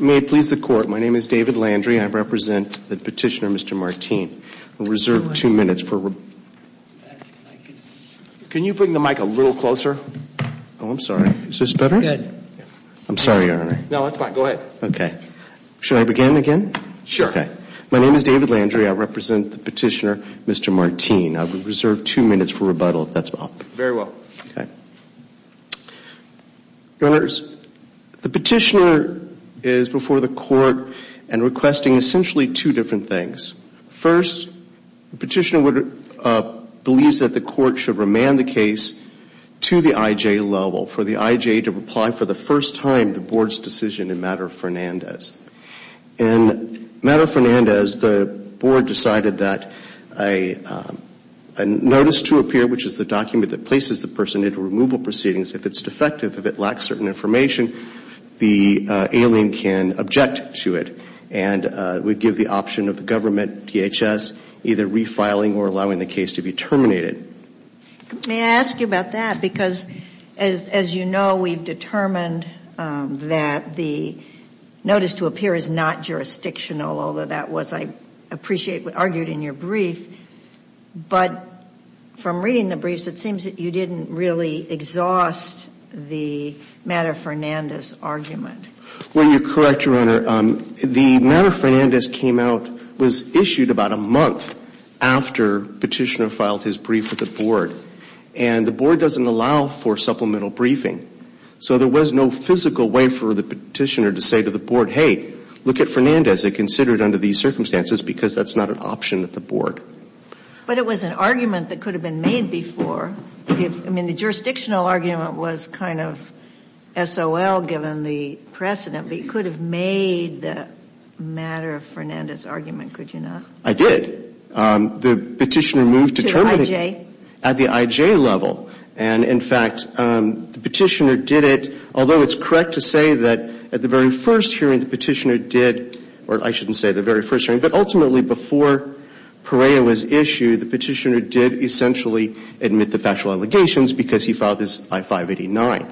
May it please the court, my name is David Landry, I represent the petitioner Mr. Martin. We'll reserve two minutes for rebuttal. Can you bring the mic a little closer? Oh, I'm sorry. Is this better? Good. I'm sorry, Your Honor. No, that's fine. Go ahead. Okay. Should I begin again? Sure. Okay. My name is David Landry. I represent the petitioner Mr. Martin. I will reserve two minutes for rebuttal if that's all. Very well. Okay. Your Honors, the petitioner is before the court and requesting essentially two different things. First, the petitioner believes that the court should remand the case to the IJ level for the IJ to reply for the first time the board's decision in matter of Fernandez. In matter of Fernandez, the board decided that a notice to appear, which is the document that places the person into removal proceedings, if it's defective, if it lacks certain information, the alien can object to it and would give the option of the government, DHS, either refiling or allowing the case to be terminated. May I ask you about that because as you know, we've determined that the notice to appear is not jurisdictional, although that was, I appreciate, argued in your brief, but from reading the briefs, it seems that you didn't really exhaust the matter of Fernandez argument. Well, you're correct, Your Honor. The matter of Fernandez came out, was issued about a month after petitioner filed his brief with the board, and the board doesn't allow for supplemental briefing. So there was no physical way for the petitioner to say to the board, hey, look at Fernandez. It considered under these circumstances because that's not an option at the board. But it was an argument that could have been made before. I mean, the jurisdictional argument was kind of SOL given the precedent, but you could have made the matter of Fernandez argument, could you not? I did. The petitioner moved to terminate it at the IJ level. And in fact, the petitioner did it, although it's correct to say that at the very first hearing the petitioner did, or I shouldn't say the very first hearing, but ultimately before Perea was issued, the petitioner did essentially admit the factual allegations because he filed this by 589.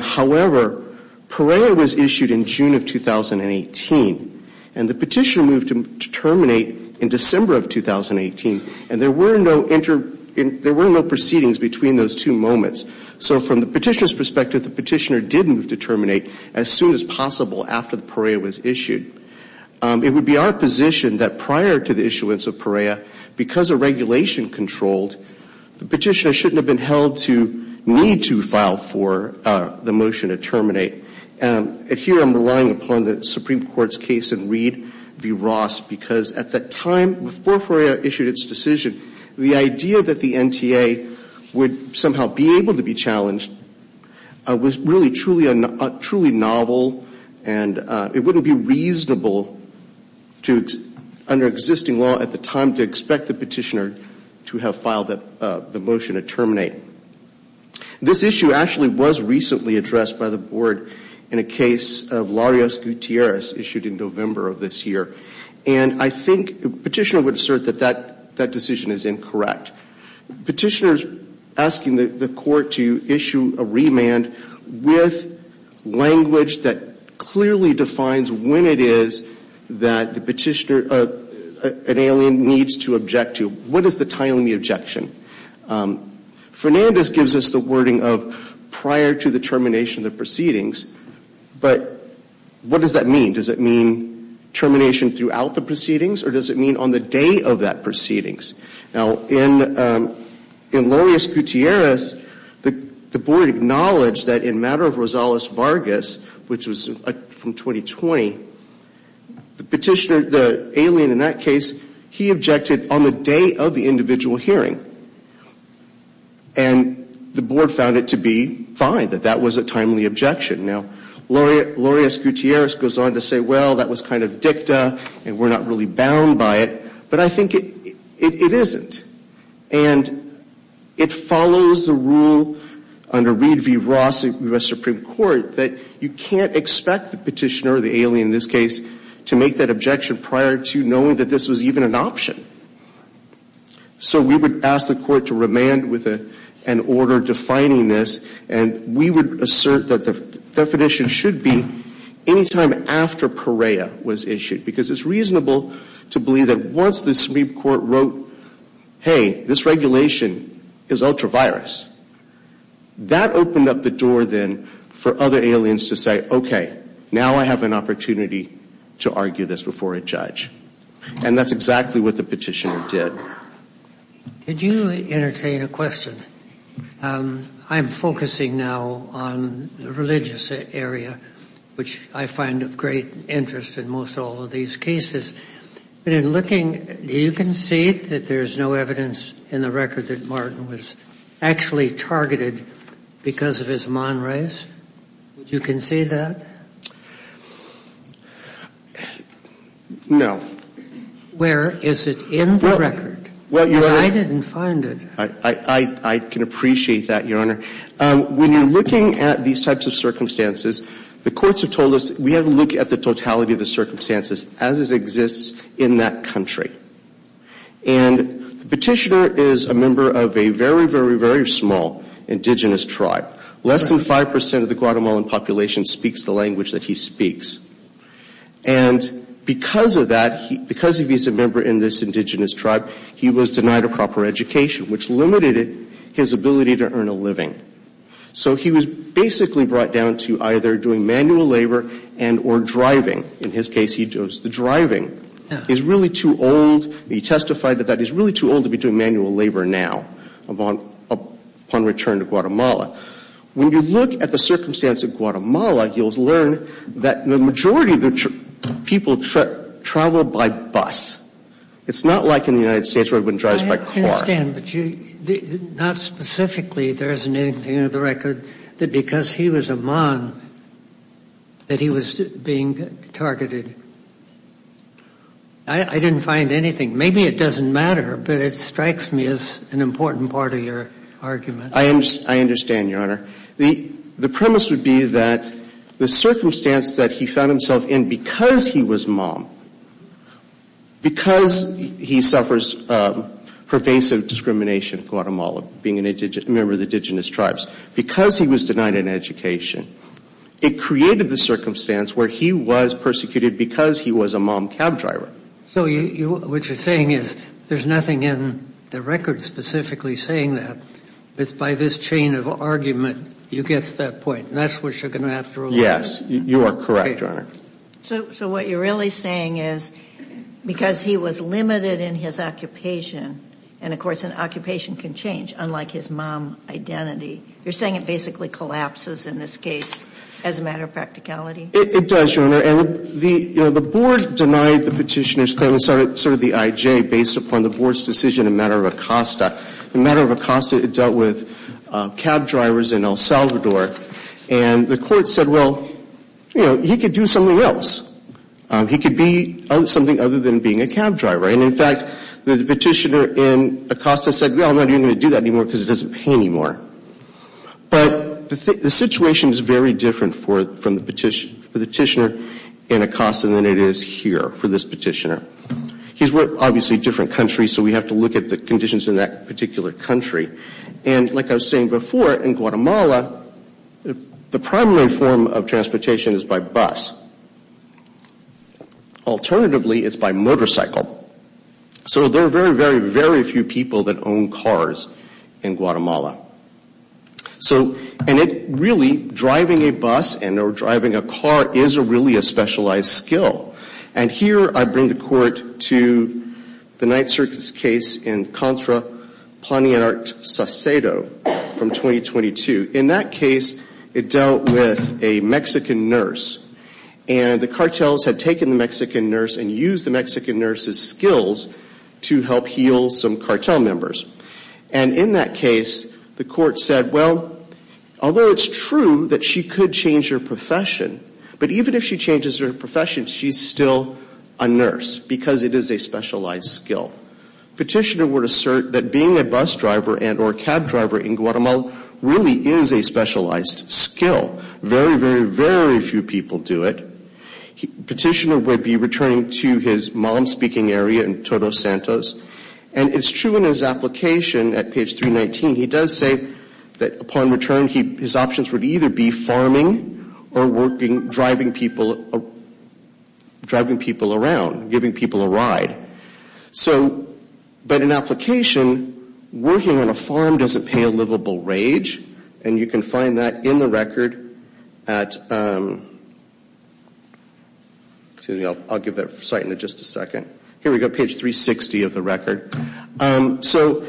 However, Perea was issued in June of 2018, and the petitioner moved to terminate in December of 2018, and there were no proceedings between those two moments. So from the petitioner's perspective, the petitioner did move to terminate as soon as possible after Perea was issued. It would be our position that prior to the issuance of Perea, because of regulation controlled, the petitioner shouldn't have been held to need to file for the motion to terminate. And here I'm relying upon the Supreme Court's case in Reed v. Ross, because at the time before Perea issued its decision, the idea that the NTA would somehow be able to be challenged was really truly novel, and it wouldn't be reasonable under existing law at the time to expect the petitioner to have filed the motion to terminate. This issue actually was recently addressed by the Board in a case of Larios Gutierrez issued in November of this year, and I think the petitioner would assert that that decision is incorrect. In fact, petitioners asking the Court to issue a remand with language that clearly defines when it is that the petitioner, an alien, needs to object to. What is the timing of the objection? Fernandez gives us the wording of prior to the termination of the proceedings, but what does that mean? Does it mean termination throughout the proceedings, or does it mean on the day of that proceedings? Now, in Larios Gutierrez, the Board acknowledged that in matter of Rosales Vargas, which was from 2020, the petitioner, the alien in that case, he objected on the day of the individual hearing, and the Board found it to be fine that that was a timely objection. Now, Larios Gutierrez goes on to say, well, that was kind of dicta, and we're not really bound by it, but I think it isn't. And it follows the rule under Reed v. Ross in the U.S. Supreme Court that you can't expect the petitioner, the alien in this case, to make that objection prior to knowing that this was even an option. So we would ask the Court to remand with an order defining this, and we would assert that the definition should be any time after Perea was issued, because it's reasonable to believe that once the Supreme Court wrote, hey, this regulation is ultra-virus, that opened up the door then for other aliens to say, okay, now I have an opportunity to argue this before a judge. And that's exactly what the petitioner did. Could you entertain a question? I'm focusing now on the religious area, which I find of great interest in most all of these cases. But in looking, do you concede that there's no evidence in the record that Martin was actually targeted because of his monrays? You concede that? No. Where? Is it in the record? I didn't find it. I can appreciate that, Your Honor. When you're looking at these types of circumstances, the courts have told us we have to look at the totality of the circumstances as it exists in that country. And the petitioner is a member of a very, very, very small indigenous tribe. Less than 5% of the Guatemalan population speaks the language that he speaks. And because of that, because he's a member in this indigenous tribe, he was denied a job or education, which limited his ability to earn a living. So he was basically brought down to either doing manual labor and or driving. In his case, he chose the driving. He's really too old. He testified that he's really too old to be doing manual labor now upon return to Guatemala. When you look at the circumstance of Guatemala, you'll learn that the majority of the people travel by bus. It's not like in the United States where we wouldn't drive by car. I understand, but not specifically. There isn't anything in the record that because he was a mom that he was being targeted. I didn't find anything. Maybe it doesn't matter, but it strikes me as an important part of your argument. I understand, Your Honor. The premise would be that the circumstance that he found himself in because he was mom, because he suffers pervasive discrimination in Guatemala, being a member of the indigenous tribes, because he was denied an education, it created the circumstance where he was persecuted because he was a mom cab driver. So what you're saying is there's nothing in the record specifically saying that. It's by this chain of argument you get to that point, and that's what you're going to have to rely on. Yes, you are correct, Your Honor. So what you're really saying is because he was limited in his occupation, and of course an occupation can change unlike his mom identity, you're saying it basically collapses in this case as a matter of practicality? It does, Your Honor, and the board denied the petitioner's claim. It's sort of the IJ based upon the board's decision in matter of a costa. In matter of a costa, it dealt with cab drivers in El Salvador, and the court said, well, you know, he could do something else. He could be something other than being a cab driver. And in fact, the petitioner in a costa said, well, I'm not even going to do that anymore because it doesn't pay anymore. But the situation is very different for the petitioner in a costa than it is here for this petitioner. These were obviously different countries, so we have to look at the conditions in that particular country. And like I was saying before, in Guatemala, the primary form of transportation is by bus. Alternatively, it's by motorcycle. So there are very, very, very few people that own cars in Guatemala. And really, driving a bus and or driving a car is really a specialized skill. And here I bring the court to the Night Circus case in Contra, Planeanart, Saucedo from 2022. In that case, it dealt with a Mexican nurse, and the cartels had taken the Mexican nurse and used the Mexican nurse's skills to help heal some cartel members. And in that case, the court said, well, although it's true that she could change her profession, but even if she changes her profession, she's still a nurse because it is a specialized skill. Petitioner would assert that being a bus driver and or a cab driver in Guatemala really is a specialized skill. Very, very, very few people do it. Petitioner would be returning to his mom-speaking area in Todos Santos. And it's true in his application at page 319, he does say that upon return, his options would either be farming or driving people around, giving people a ride. So, but in application, working on a farm doesn't pay a livable wage. And you can find that in the record at, I'll give that site in just a second. Here we go, page 360 of the record. So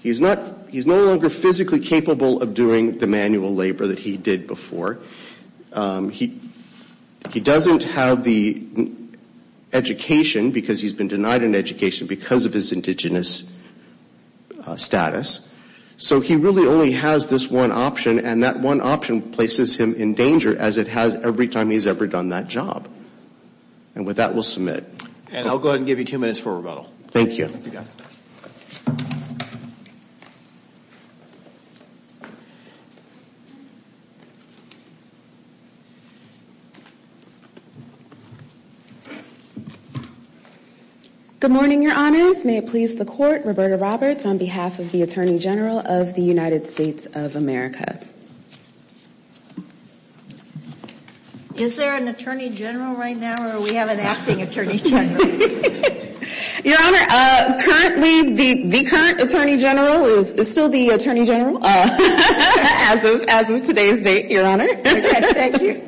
he's no longer physically capable of doing the manual labor that he did before. He doesn't have the education because he's been denied an education because of his indigenous status. So he really only has this one option, and that one option places him in danger, as it has every time he's ever done that job. And with that, we'll submit. And I'll go ahead and give you two minutes for rebuttal. Thank you. Good morning, Your Honors. May it please the Court, Roberta Roberts on behalf of the Attorney General of the United States of America. Is there an Attorney General right now, or do we have an acting Attorney General? Your Honor, currently the current Attorney General is still the Attorney General, as of today's date, Your Honor. Okay, thank you.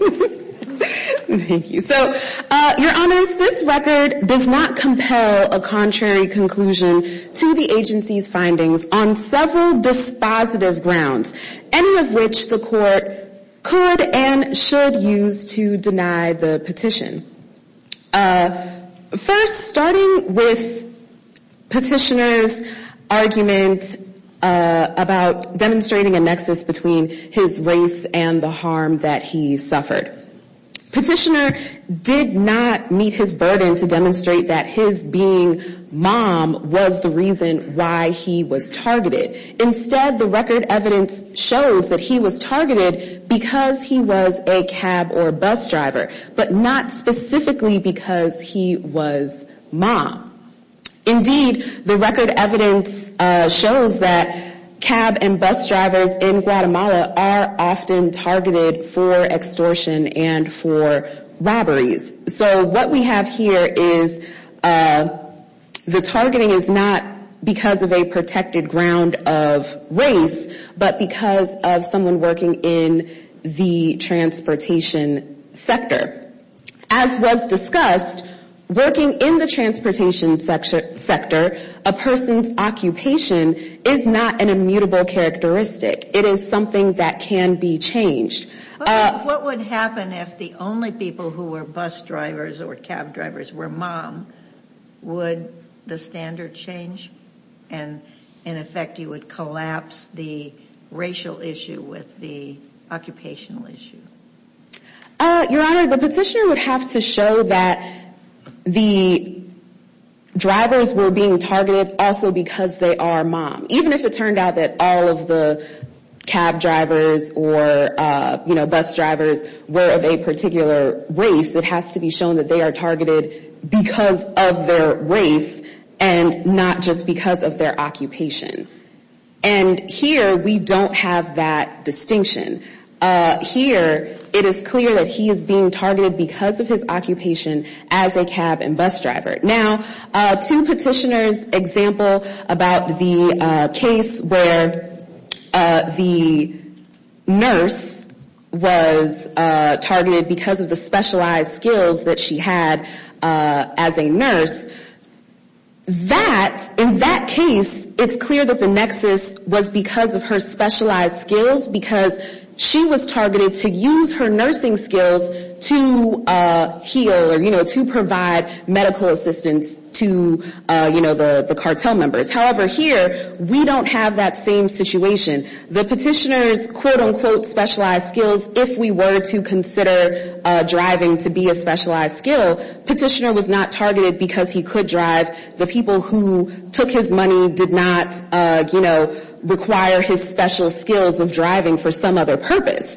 Thank you. So, Your Honors, this record does not compel a contrary conclusion to the agency's findings on several dispositive grounds, any of which the Court could and should use to deny the petition. First, starting with Petitioner's argument about demonstrating a nexus between his race and the harm that he suffered. Petitioner did not meet his burden to demonstrate that his being mom was the reason why he was targeted. Instead, the record evidence shows that he was targeted because he was a cab or bus driver, but not specifically because he was mom. Indeed, the record evidence shows that cab and bus drivers in Guatemala are often targeted for extortion and for robberies. So what we have here is the targeting is not because of a protected ground of race, but because of someone working in the transportation sector. As was discussed, working in the transportation sector, a person's occupation is not an immutable characteristic. It is something that can be changed. What would happen if the only people who were bus drivers or cab drivers were mom? Would the standard change and, in effect, you would collapse the racial issue with the occupational issue? Your Honor, the petitioner would have to show that the drivers were being targeted also because they are mom, even if it turned out that all of the cab drivers or bus drivers were of a particular race. It has to be shown that they are targeted because of their race and not just because of their occupation. And here we don't have that distinction. Here it is clear that he is being targeted because of his occupation as a cab and bus driver. Now, two petitioners' example about the case where the nurse was targeted because of the specialized skills that she had as a nurse. In that case, it is clear that the nexus was because of her specialized skills, because she was targeted to use her nursing skills to heal or, you know, to provide medical assistance to, you know, the cartel members. However, here we don't have that same situation. The petitioner's, quote, unquote, specialized skills, if we were to consider driving to be a specialized skill, petitioner was not targeted because he could drive. The people who took his money did not, you know, require his special skills of driving for some other purpose.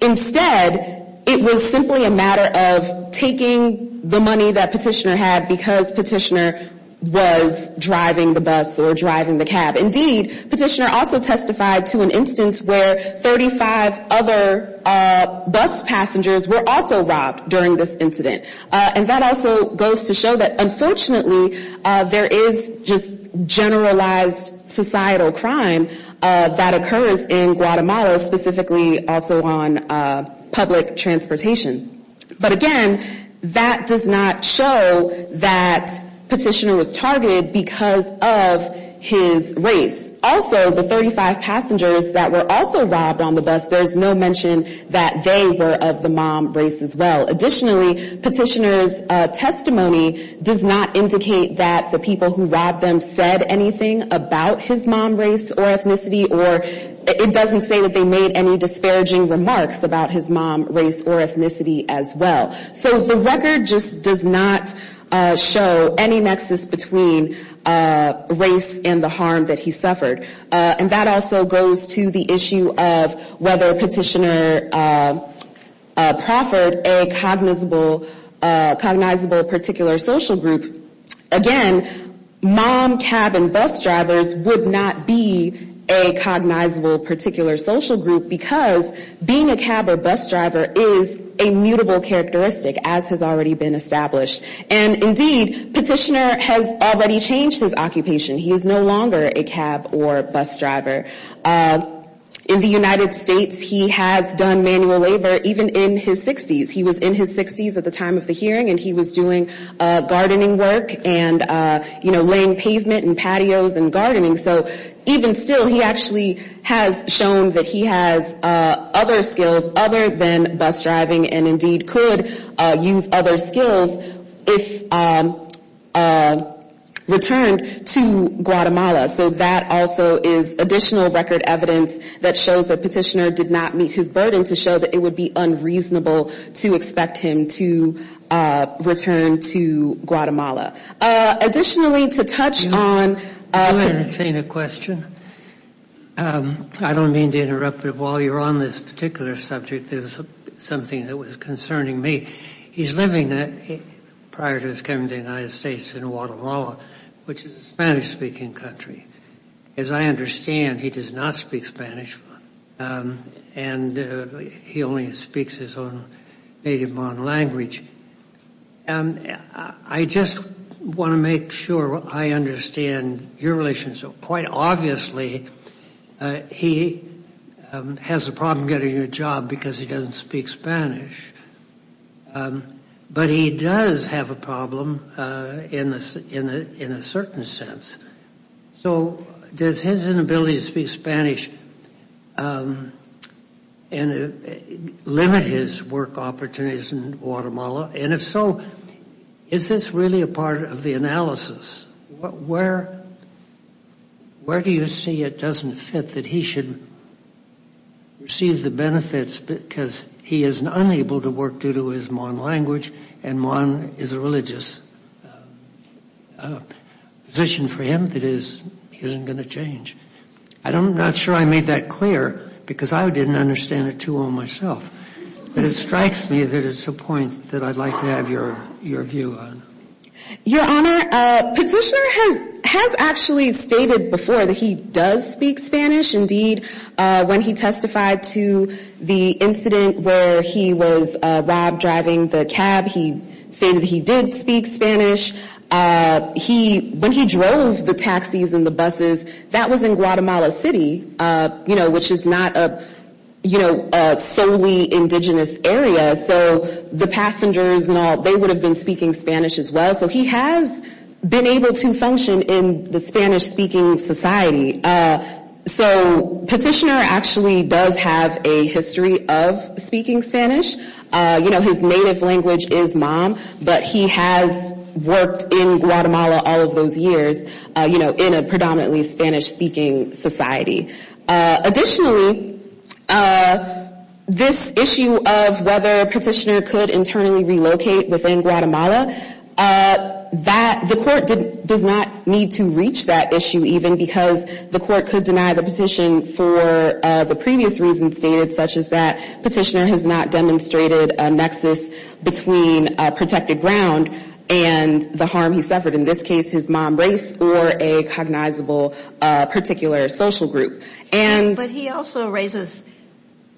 Instead, it was simply a matter of taking the money that petitioner had because petitioner was driving the bus or driving the cab. Indeed, petitioner also testified to an instance where 35 other bus passengers were also robbed during this incident. And that also goes to show that, unfortunately, there is just generalized societal crime that occurs in Guatemala, specifically also on public transportation. But, again, that does not show that petitioner was targeted because of his race. Also, the 35 passengers that were also robbed on the bus, there's no mention that they were of the mom race as well. Additionally, petitioner's testimony does not indicate that the people who robbed them said anything about his mom race or ethnicity or it doesn't say that they made any disparaging remarks about his mom race or ethnicity as well. So the record just does not show any nexus between race and the harm that he suffered. And that also goes to the issue of whether petitioner proffered a cognizable particular social group. Again, mom, cab, and bus drivers would not be a cognizable particular social group because being a cab or bus driver is a mutable characteristic, as has already been established. And, indeed, petitioner has already changed his occupation. He is no longer a cab or bus driver. In the United States, he has done manual labor even in his 60s. He was in his 60s at the time of the hearing and he was doing gardening work and, you know, laying pavement and patios and gardening. So even still, he actually has shown that he has other skills other than bus driving and, indeed, could use other skills if returned to Guatemala. So that also is additional record evidence that shows that petitioner did not meet his burden to show that it would be unreasonable to expect him to return to Guatemala. Additionally, to touch on- Can I entertain a question? I don't mean to interrupt, but while you're on this particular subject, there's something that was concerning me. He's living prior to his coming to the United States in Guatemala, which is a Spanish-speaking country. As I understand, he does not speak Spanish and he only speaks his own native Hmong language. I just want to make sure I understand your relationship. Quite obviously, he has a problem getting a job because he doesn't speak Spanish, but he does have a problem in a certain sense. So does his inability to speak Spanish limit his work opportunities in Guatemala? And if so, is this really a part of the analysis? Where do you see it doesn't fit that he should receive the benefits because he is unable to work due to his Hmong language and Hmong is a religious position for him that isn't going to change? I'm not sure I made that clear because I didn't understand it too well myself. But it strikes me that it's a point that I'd like to have your view on. Your Honor, petitioner has actually stated before that he does speak Spanish. Indeed, when he testified to the incident where he was robbed driving the cab, he stated he did speak Spanish. When he drove the taxis and the buses, that was in Guatemala City, you know, which is not a, you know, solely indigenous area. So the passengers and all, they would have been speaking Spanish as well. So he has been able to function in the Spanish-speaking society. So petitioner actually does have a history of speaking Spanish. You know, his native language is Hmong, but he has worked in Guatemala all of those years, you know, in a predominantly Spanish-speaking society. Additionally, this issue of whether petitioner could internally relocate within Guatemala, the court does not need to reach that issue even because the court could deny the petition for the previous reasons stated, such as that petitioner has not demonstrated a nexus between protected ground and the harm he suffered. In this case, his Hmong race or a cognizable particular social group. But he also raises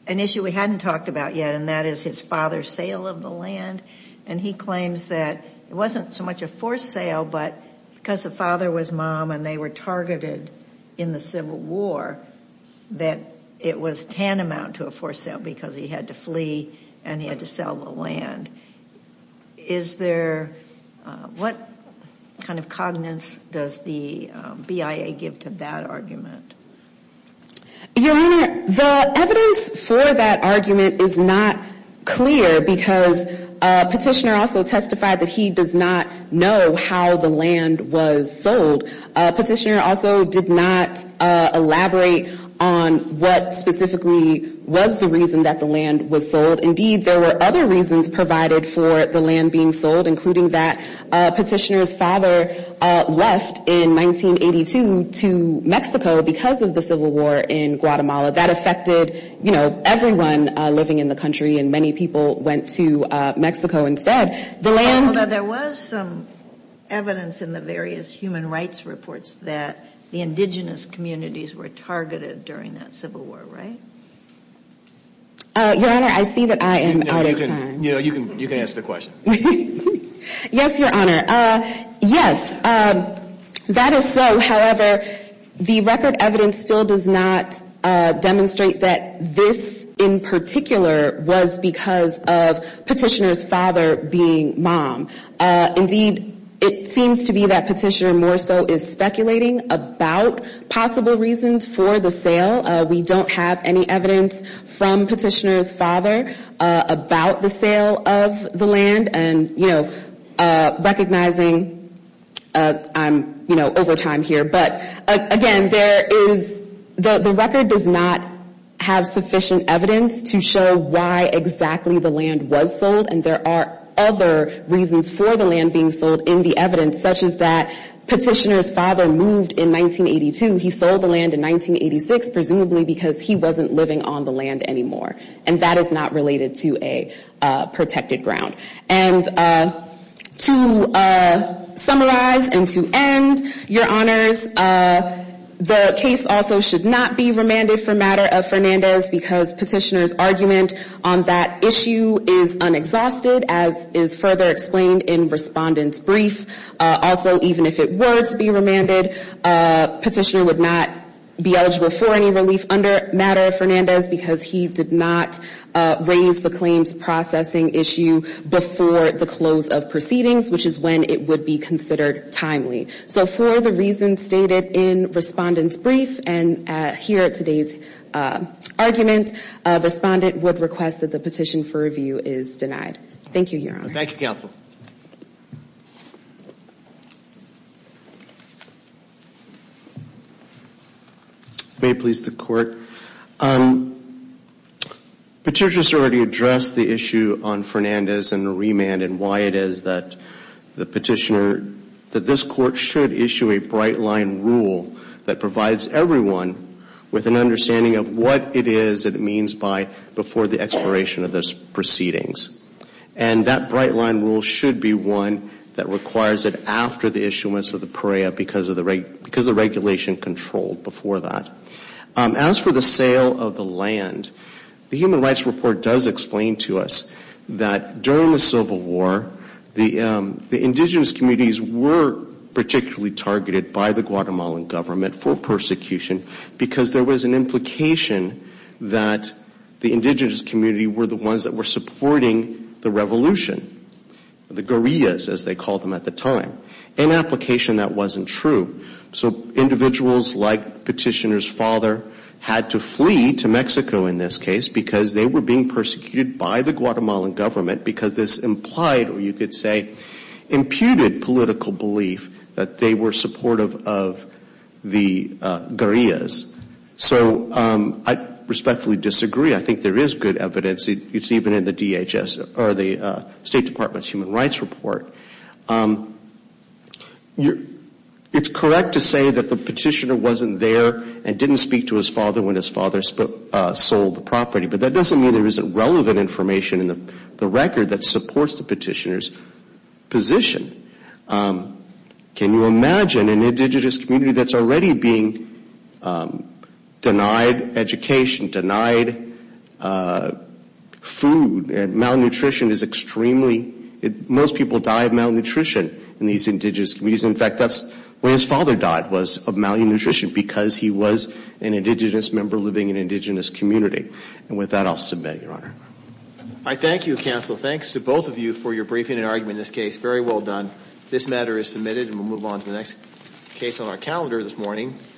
an issue we hadn't talked about yet, and that is his father's sale of the land. And he claims that it wasn't so much a forced sale, but because the father was Hmong and they were targeted in the Civil War, that it was tantamount to a forced sale because he had to flee and he had to sell the land. Is there, what kind of cognizance does the BIA give to that argument? Your Honor, the evidence for that argument is not clear because petitioner also testified that he does not know how the land was sold. Petitioner also did not elaborate on what specifically was the reason that the land was sold. Indeed, there were other reasons provided for the land being sold, including that petitioner's father left in 1982 to Mexico because of the Civil War in Guatemala. That affected, you know, everyone living in the country and many people went to Mexico instead. Although there was some evidence in the various human rights reports that the indigenous communities were targeted during that Civil War, right? Your Honor, I see that I am out of time. You know, you can answer the question. Yes, Your Honor. Yes, that is so. However, the record evidence still does not demonstrate that this in particular was because of petitioner's father being Hmong. Indeed, it seems to be that petitioner more so is speculating about possible reasons for the sale. We don't have any evidence from petitioner's father about the sale of the land. And, you know, recognizing I'm, you know, over time here. But again, there is the record does not have sufficient evidence to show why exactly the land was sold. And there are other reasons for the land being sold in the evidence, such as that petitioner's father moved in 1982. He sold the land in 1986, presumably because he wasn't living on the land anymore. And that is not related to a protected ground. And to summarize and to end, Your Honors, the case also should not be remanded for matter of Fernandez because petitioner's argument on that issue is unexhausted, as is further explained in respondent's brief. Also, even if it were to be remanded, petitioner would not be eligible for any relief under matter of Fernandez because he did not raise the claims processing issue before the close of proceedings, which is when it would be considered timely. So for the reasons stated in respondent's brief and here at today's argument, respondent would request that the petition for review is denied. Thank you, Your Honors. Thank you, counsel. May it please the court. Petitioner's already addressed the issue on Fernandez and the remand and why it is that the petitioner, that this court should issue a bright line rule that provides everyone with an understanding of what it is that it means by before the expiration of those proceedings. And that bright line rule should be one that requires it after the issuance of the PREA because the regulation controlled before that. As for the sale of the land, the Human Rights Report does explain to us that during the Civil War, the indigenous communities were particularly targeted by the Guatemalan government for persecution because there was an implication that the indigenous community were the ones that were supporting the sale of the land. And there was an implication that they were supporting the revolution, the guerrillas as they called them at the time, an application that wasn't true. So individuals like petitioner's father had to flee to Mexico in this case because they were being persecuted by the Guatemalan government because this implied or you could say imputed political belief that they were supportive of the guerrillas. So I respectfully disagree. I think there is good evidence. It's even in the DHS or the State Department's Human Rights Report. It's correct to say that the petitioner wasn't there and didn't speak to his father when his father sold the property. But that doesn't mean there isn't relevant information in the record that supports the petitioner's position. Can you imagine an indigenous community that's already being denied education, denied food and malnutrition is extremely, most people die of malnutrition in these indigenous communities. In fact, that's the way his father died was of malnutrition because he was an indigenous member living in an indigenous community. And with that, I'll submit, Your Honor. I thank you, counsel. Thanks to both of you for your briefing and argument in this case. Very well done. This matter is submitted and we'll move on to the next case on our calendar this morning.